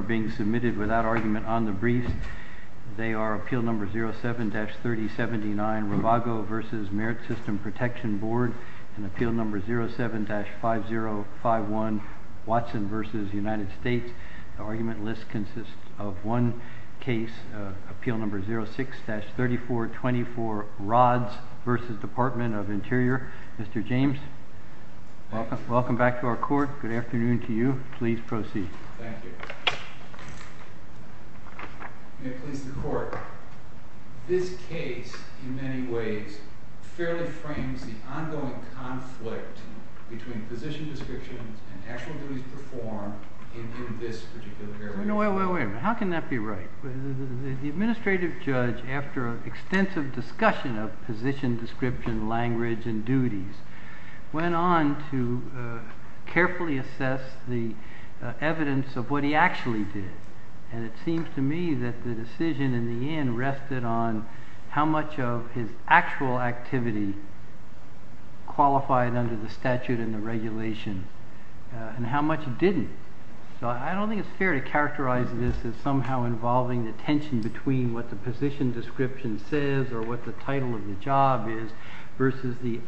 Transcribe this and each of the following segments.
are being submitted without argument on the briefs. They are Appeal No. 07-3079, Rivago v. Merit System Protection Board, and Appeal No. 07-5051, Watson v. United States. The argument list consists of one case, Appeal No. 06-3424, Rods v. Department of Interior. Mr. James, welcome back to our court. Good afternoon to you. Please proceed. Thank you. May it please the court. This case, in many ways, fairly frames the ongoing conflict between position description and actual duties performed in this particular area. No, wait, wait, wait. How can that be right? The administrative judge, after an extensive discussion of position description, language, and duties, went on to carefully assess the evidence of what he actually did. And it seems to me that the decision in the end rested on how much of his actual activity qualified under the statute and the regulation, and how much it didn't. So I don't think it's fair to characterize this as somehow involving the tension between what the position description says or what the title of the job is, versus the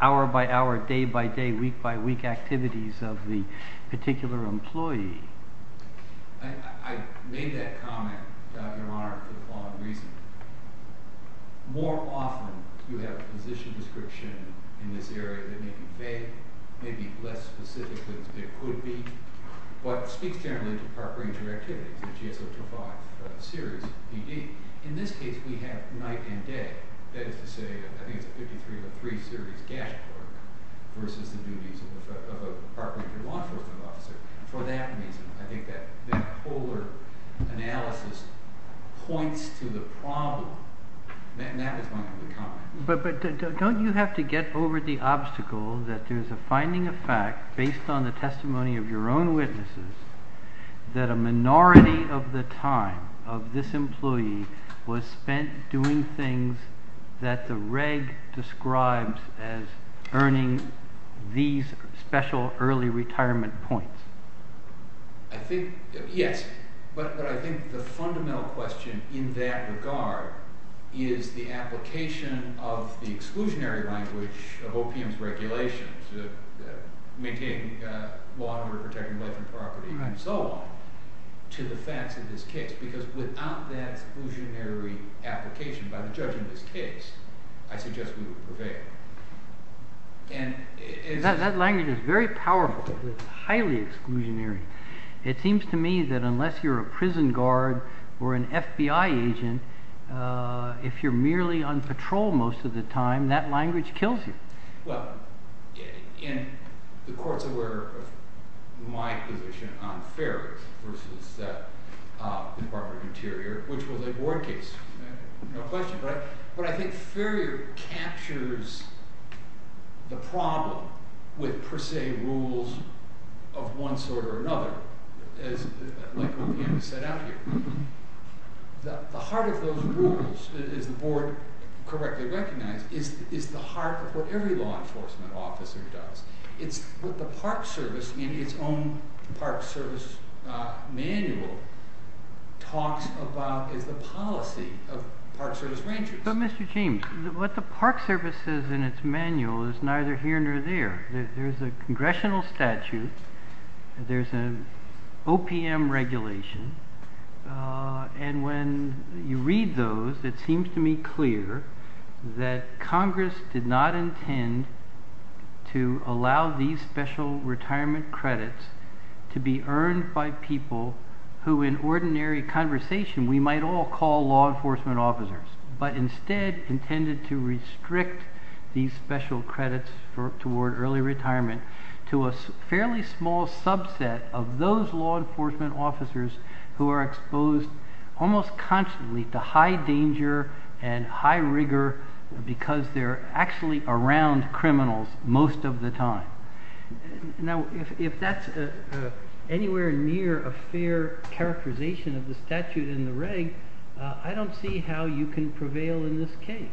hour-by-hour, day-by-day, week-by-week activities of the particular employee. I made that comment, Your Honor, for the following reason. More often, you have a position description in this area that may be vague, may be less specific than it could be, but speaks generally to park ranger activities, the GS 025 series PD. In this case, we have night and day. That is to say, I think it's a 5303 series dashboard, versus the duties of a park ranger law enforcement officer. For that reason, I think that polar analysis points to the problem. And that is my only comment. But don't you have to get over the obstacle that there is a finding of fact, based on the testimony of your own witnesses, that a minority of the time of this employee was spent doing things that the reg. describes as earning these special early retirement points? Yes, but I think the fundamental question in that regard is the application of the exclusionary language of OPM's regulations, maintaining law under protecting life and property, and so on, to the facts of this case. Because without that exclusionary application, by the judge of this case, I suggest we would prevail. That language is very powerful. It's highly exclusionary. It seems to me that unless you're a prison guard or an FBI agent, if you're merely on patrol most of the time, that language kills you. The court's aware of my position on Farrier versus the Department of Interior, which was a board case. No question, right? But I think Farrier captures the problem with per se rules of one sort or another, like OPM has set out here. The heart of those rules, as the board correctly recognizes, is the heart of what every law enforcement officer does. It's what the Park Service, in its own Park Service manual, talks about as the policy of Park Service ranchers. But Mr. James, what the Park Service says in its manual is neither here nor there. There's a congressional statute, there's an OPM regulation, and when you read those, it seems to me clear that Congress did not intend to allow these special retirement credits to be earned by people who in ordinary conversation we might all call law enforcement officers, but instead intended to restrict these special credits toward early retirement to a fairly small subset of those law enforcement officers who are exposed almost constantly to high danger and high rigor because they're actually around criminals most of the time. Now, if that's anywhere near a fair characterization of the statute in the reg, I don't see how you can prevail in this case.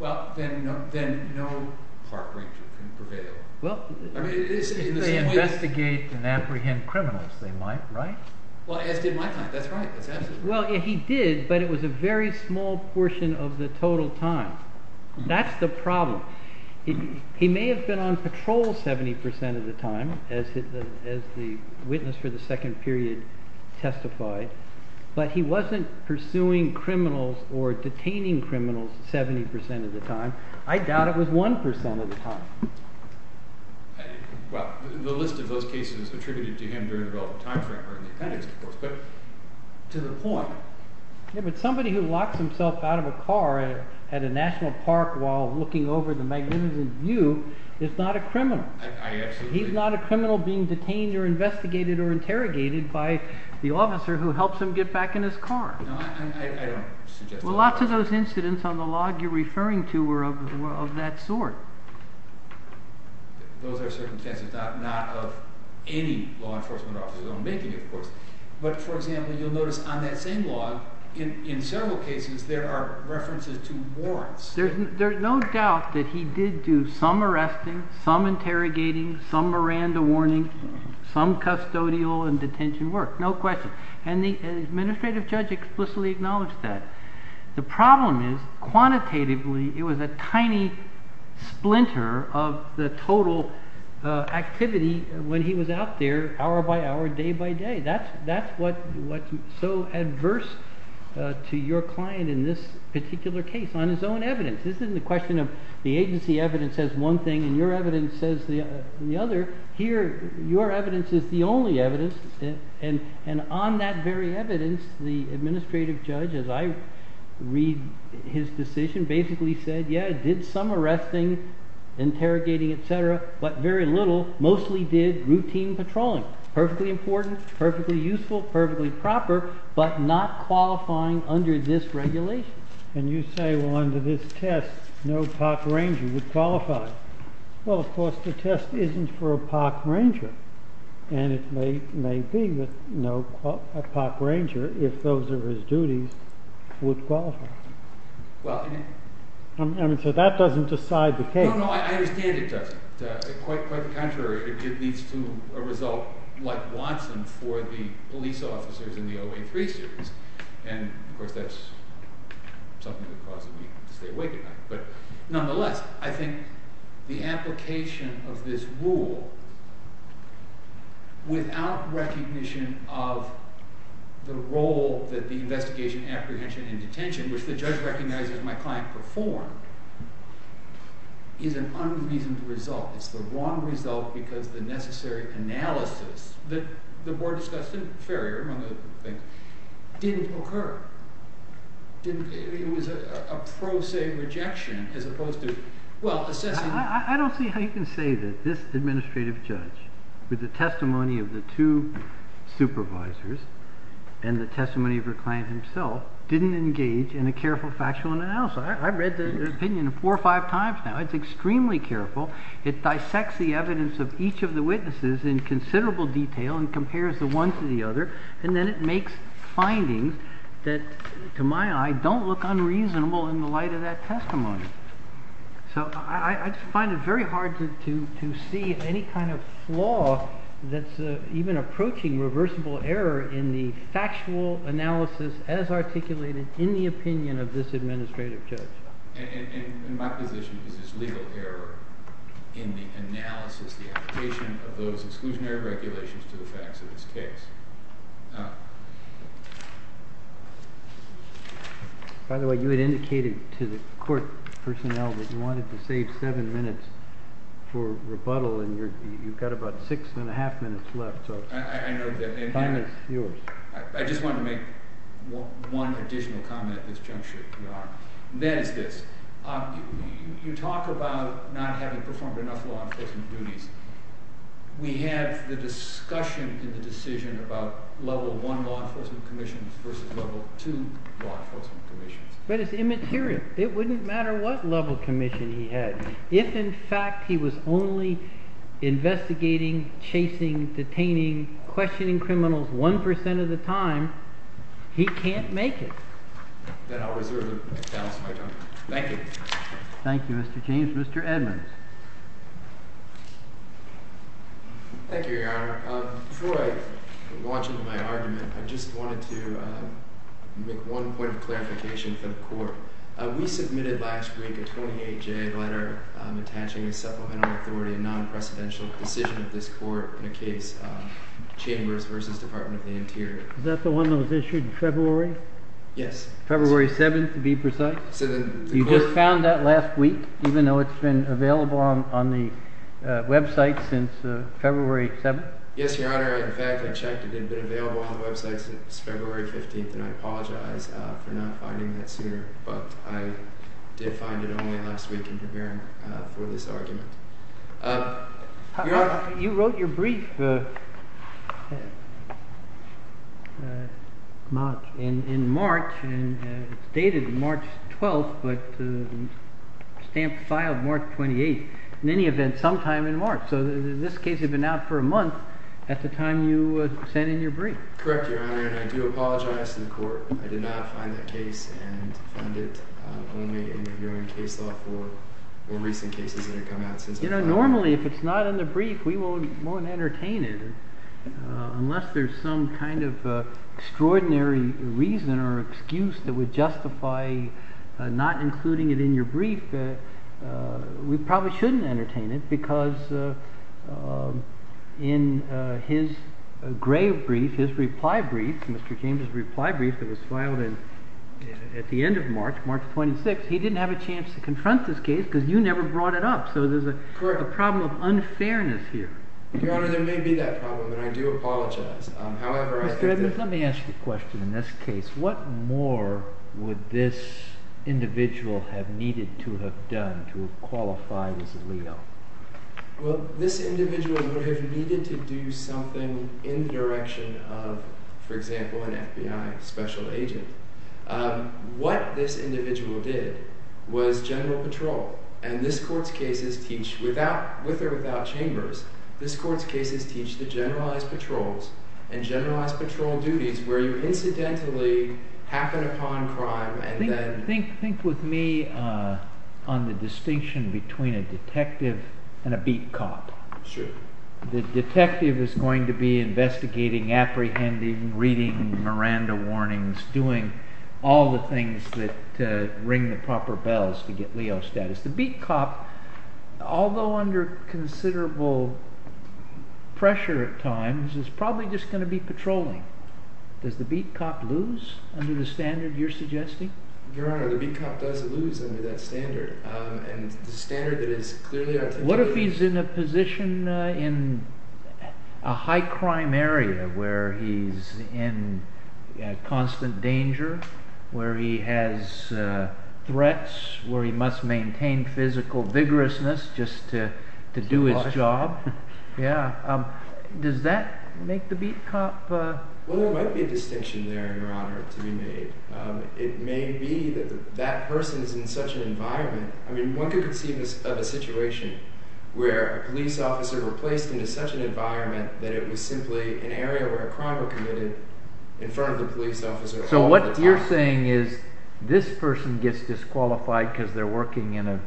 Well, then no park ranger can prevail. Well, if they investigate and apprehend criminals, they might, right? Well, as did my client. That's right. Well, he did, but it was a very small portion of the total time. That's the problem. He may have been on patrol 70% of the time, as the witness for the second period testified, but he wasn't pursuing criminals or detaining criminals 70% of the time. I doubt it was 1% of the time. Well, the list of those cases attributed to him during the relevant time frame are in the appendix, of course, but to the point. Yeah, but somebody who locks himself out of a car at a national park while looking over the magnificent view is not a criminal. He's not a criminal being detained or investigated or interrogated by the officer who helps him get back in his car. No, I don't suggest that. Well, lots of those incidents on the log you're referring to were of that sort. Those are circumstances not of any law enforcement officer's own making, of course. But, for example, you'll notice on that same log, in several cases, there are references to warrants. There's no doubt that he did do some arresting, some interrogating, some Miranda warning, some custodial and detention work. No question. And the administrative judge explicitly acknowledged that. The problem is, quantitatively, it was a tiny splinter of the total activity when he was out there hour by hour, day by day. That's what's so adverse to your client in this particular case, on his own evidence. This isn't a question of the agency evidence says one thing and your evidence says the other. Here, your evidence is the only evidence, and on that very evidence, the administrative judge, as I read his decision, basically said, yeah, did some arresting, interrogating, et cetera, but very little, mostly did routine patrolling. Perfectly important, perfectly useful, perfectly proper, but not qualifying under this regulation. And you say, well, under this test, no park ranger would qualify. Well, of course, the test isn't for a park ranger, and it may be that a park ranger, if those are his duties, would qualify. So that doesn't decide the case. No, no, I understand it doesn't. Quite the contrary. It leads to a result like Watson for the police officers in the 083 series. And, of course, that's something that causes me to stay awake at night. But nonetheless, I think the application of this rule, without recognition of the role that the investigation, apprehension, and detention, which the judge recognizes my client performed, is an unreasonable result. It's the wrong result because the necessary analysis that the board discussed in Ferrier, among other things, didn't occur. It was a pro se rejection as opposed to, well, assessing. I don't see how you can say that this administrative judge, with the testimony of the two supervisors and the testimony of your client himself, didn't engage in a careful factual analysis. I've read the opinion four or five times now. It's extremely careful. It dissects the evidence of each of the witnesses in considerable detail and compares the one to the other. And then it makes findings that, to my eye, don't look unreasonable in the light of that testimony. So I just find it very hard to see any kind of flaw that's even approaching reversible error in the factual analysis as articulated in the opinion of this administrative judge. And my position is there's legal error in the analysis, the application of those exclusionary regulations to the facts of this case. By the way, you had indicated to the court personnel that you wanted to save seven minutes for rebuttal, and you've got about six and a half minutes left. I know that. Time is yours. I just wanted to make one additional comment at this juncture, if you don't mind. And that is this. You talk about not having performed enough law enforcement duties. We have the discussion in the decision about level one law enforcement commission versus level two law enforcement commission. But it's immaterial. It wouldn't matter what level commission he had. If, in fact, he was only investigating, chasing, detaining, questioning criminals 1% of the time, he can't make it. Then I'll reserve the balance of my time. Thank you. Thank you, Mr. James. Mr. Edmonds. Thank you, Your Honor. Before I launch into my argument, I just wanted to make one point of clarification for the court. We submitted last week a 28-J letter attaching a supplemental authority, a non-precedential decision of this court in a case, Chambers versus Department of the Interior. Is that the one that was issued in February? Yes. February 7th, to be precise? You just found that last week, even though it's been available on the website since February 7th? Yes, Your Honor. In fact, I checked. It had been available on the website since February 15th, and I apologize for not finding that sooner. But I did find it only last week in preparing for this argument. You wrote your brief in March. It's dated March 12th, but the stamp filed March 28th. In any event, sometime in March. So in this case, you've been out for a month at the time you sent in your brief. Correct, Your Honor. I do apologize to the court. I did not find that case and found it only in reviewing case law for more recent cases that have come out since then. Normally, if it's not in the brief, we won't entertain it. Unless there's some kind of extraordinary reason or excuse that would justify not including it in your brief, we probably shouldn't entertain it because in his grave brief, his reply brief, Mr. James' reply brief that was filed at the end of March, March 26th, he didn't have a chance to confront this case because you never brought it up. So there's a problem of unfairness here. Your Honor, there may be that problem, and I do apologize. Mr. Evans, let me ask you a question in this case. What more would this individual have needed to have done to qualify as a LEO? Well, this individual would have needed to do something in the direction of, for example, an FBI special agent. What this individual did was general patrol, and this court's cases teach, with or without chambers, this court's cases teach the generalized patrols and generalized patrol duties where you incidentally happen upon crime and then… Think with me on the distinction between a detective and a beat cop. Sure. The detective is going to be investigating, apprehending, reading Miranda warnings, doing all the things to ring the proper bells to get LEO status. The beat cop, although under considerable pressure at times, is probably just going to be patrolling. Does the beat cop lose under the standard you're suggesting? Your Honor, the beat cop does lose under that standard, and the standard that is clearly… What if he's in a position in a high-crime area where he's in constant danger, where he has threats, where he must maintain physical vigorousness just to do his job? Yeah. Does that make the beat cop… Well, there might be a distinction there, Your Honor, to be made. It may be that that person is in such an environment… I mean, one could conceive of a situation where a police officer were placed into such an environment that it was simply an area where a crime was committed in front of the police officer all the time. So what you're saying is this person gets disqualified because they're working in a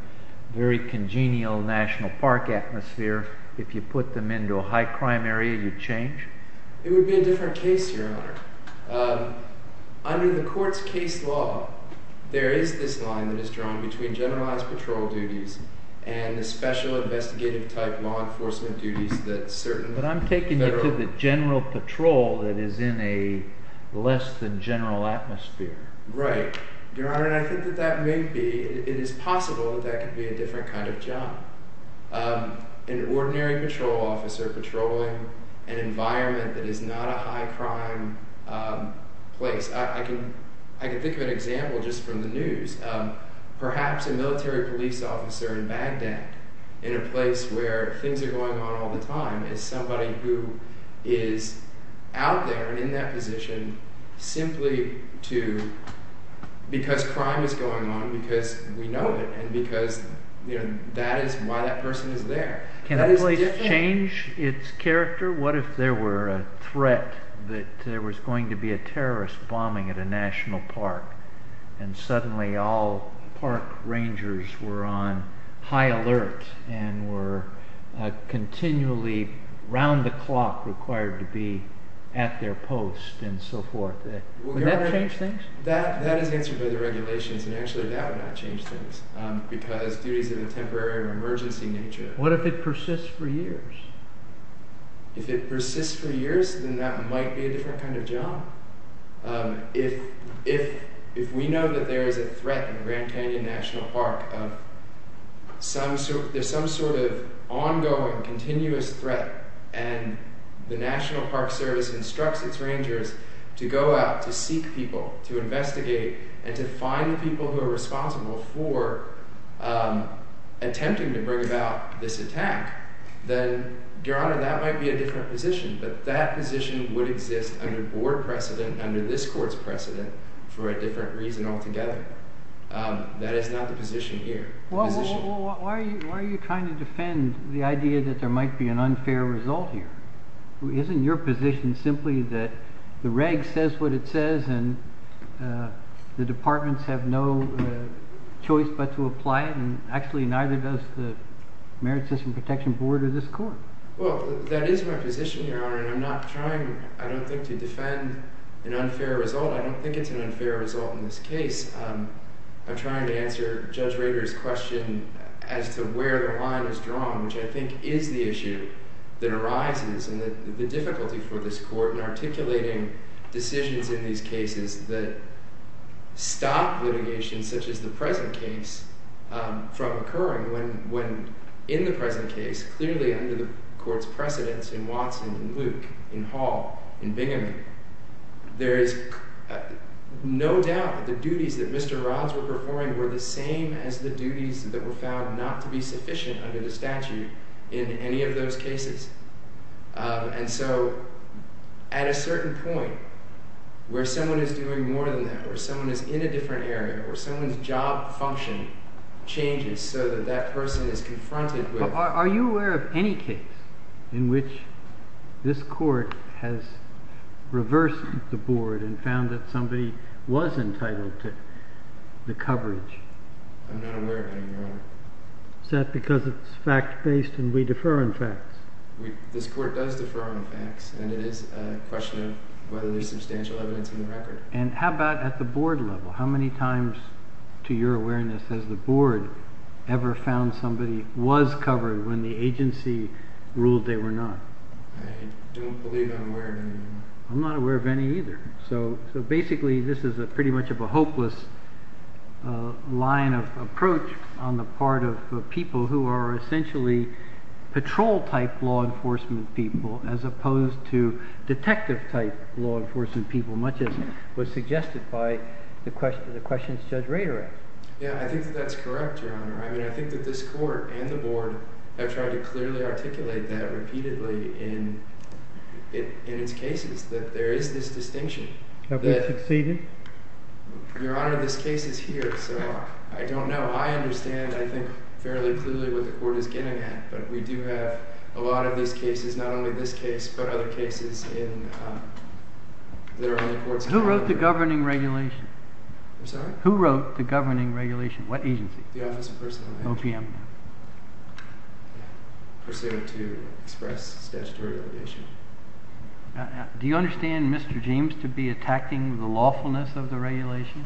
very congenial national park atmosphere. If you put them into a high-crime area, you change? It would be a different case, Your Honor. Under the court's case law, there is this line that is drawn between generalized patrol duties and the special investigative-type law enforcement duties that certain federal… But I'm taking you to the general patrol that is in a less-than-general atmosphere. Right. Your Honor, and I think that that may be… It is possible that that could be a different kind of job. An ordinary patrol officer patrolling an environment that is not a high-crime place. I can think of an example just from the news. Perhaps a military police officer in Baghdad, in a place where things are going on all the time, is somebody who is out there and in that position simply because crime is going on, because we know it, and because that is why that person is there. Can a place change its character? What if there were a threat that there was going to be a terrorist bombing at a national park, and suddenly all park rangers were on high alert and were continually, around the clock, required to be at their post and so forth? Would that change things? That is answered by the regulations, and actually that would not change things, because duties of the temporary or emergency nature… What if it persists for years? If it persists for years, then that might be a different kind of job. If we know that there is a threat in Grand Canyon National Park, there is some sort of ongoing, continuous threat, and the National Park Service instructs its rangers to go out, to seek people, to investigate, and to find the people who are responsible for attempting to bring about this attack, then, Your Honor, that might be a different position, but that position would exist under board precedent, under this court's precedent, for a different reason altogether. That is not the position here. Why are you trying to defend the idea that there might be an unfair result here? Isn't your position simply that the reg says what it says and the departments have no choice but to apply it, and actually neither does the Merit System Protection Board or this court? Well, that is my position, Your Honor, and I'm not trying, I don't think, to defend an unfair result. I don't think it's an unfair result in this case. I'm trying to answer Judge Rader's question as to where the line is drawn, which I think is the issue that arises and the difficulty for this court in articulating decisions in these cases that stop litigation, such as the present case, from occurring when, in the present case, clearly under the court's precedents in Watson, in Luke, in Hall, in Bingaman, there is no doubt that the duties that Mr. Rodds were performing were the same as the duties that were found not to be sufficient under the statute in any of those cases. And so, at a certain point, where someone is doing more than that, or someone is in a different area, or someone's job function changes so that that person is confronted with... Are you aware of any case in which this court has reversed the board and found that somebody was entitled to the coverage? I'm not aware of any, Your Honor. Is that because it's fact-based and we defer on facts? This court does defer on facts, and it is a question of whether there's substantial evidence in the record. And how about at the board level? How many times, to your awareness, has the board ever found somebody was covered when the agency ruled they were not? I don't believe I'm aware of any, Your Honor. I'm not aware of any either. So, basically, this is pretty much of a hopeless line of approach on the part of people who are essentially patrol-type law enforcement people as opposed to detective-type law enforcement people, much as was suggested by the questions Judge Ray directed. Yeah, I think that that's correct, Your Honor. I mean, I think that this court and the board have tried to clearly articulate that repeatedly in its cases, that there is this distinction. Have they succeeded? Your Honor, this case is here, so I don't know. I understand, I think, fairly clearly what the court is getting at, but we do have a lot of these cases, not only this case, but other cases, and there are other courts... Who wrote the governing regulation? I'm sorry? Who wrote the governing regulation? What agency? The Office of Personal Injury. OPM. Pursuant to express statutory obligation. Do you understand, Mr. James, to be attacking the lawfulness of the regulation?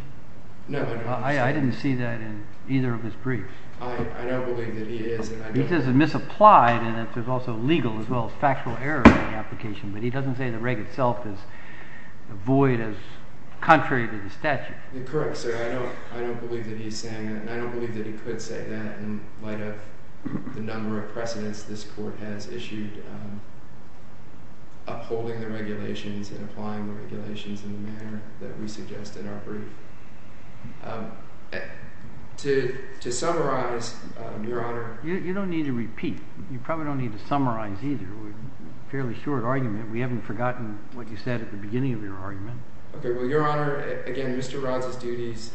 No, I don't understand. I didn't see that in either of his briefs. I don't believe that he is... He says it misapplied, and that there's also legal as well as factual error in the application, but he doesn't say the reg itself is void as contrary to the statute. Correct, sir. I don't believe that he's saying that, and I don't believe that he could say that in light of the number of precedents this court has issued upholding the regulations and applying the regulations in the manner that we suggested in our brief. To summarize, Your Honor... You don't need to repeat. You probably don't need to summarize either. Fairly short argument. We haven't forgotten what you said at the beginning of your argument. Okay, well, Your Honor, again, Mr. Rod's duty is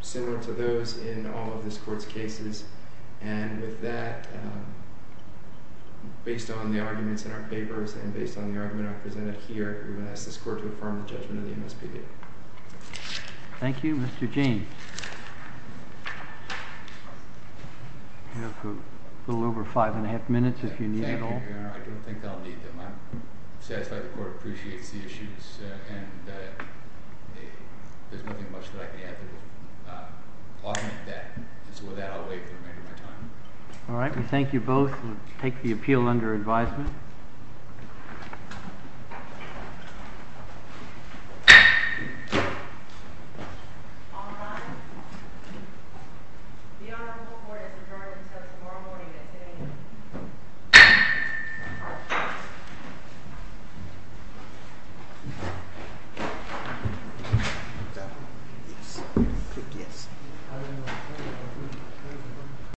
similar to those in all of this court's cases, and with that, based on the arguments in our papers and based on the argument I presented here, we're going to ask this court to affirm the judgment of the MSPB. Thank you. Mr. Gene. You have a little over five and a half minutes if you need it all. Thank you, Your Honor. I don't think I'll need them. I'm satisfied the court appreciates the issues, and there's nothing much that I can add to it. I'll make that, and so with that, I'll wait for the remainder of my time. All right, we thank you both. We'll take the appeal under advisement. All rise. The Honorable Court has adjourned until tomorrow morning at 10 a.m. Yes, I think yes.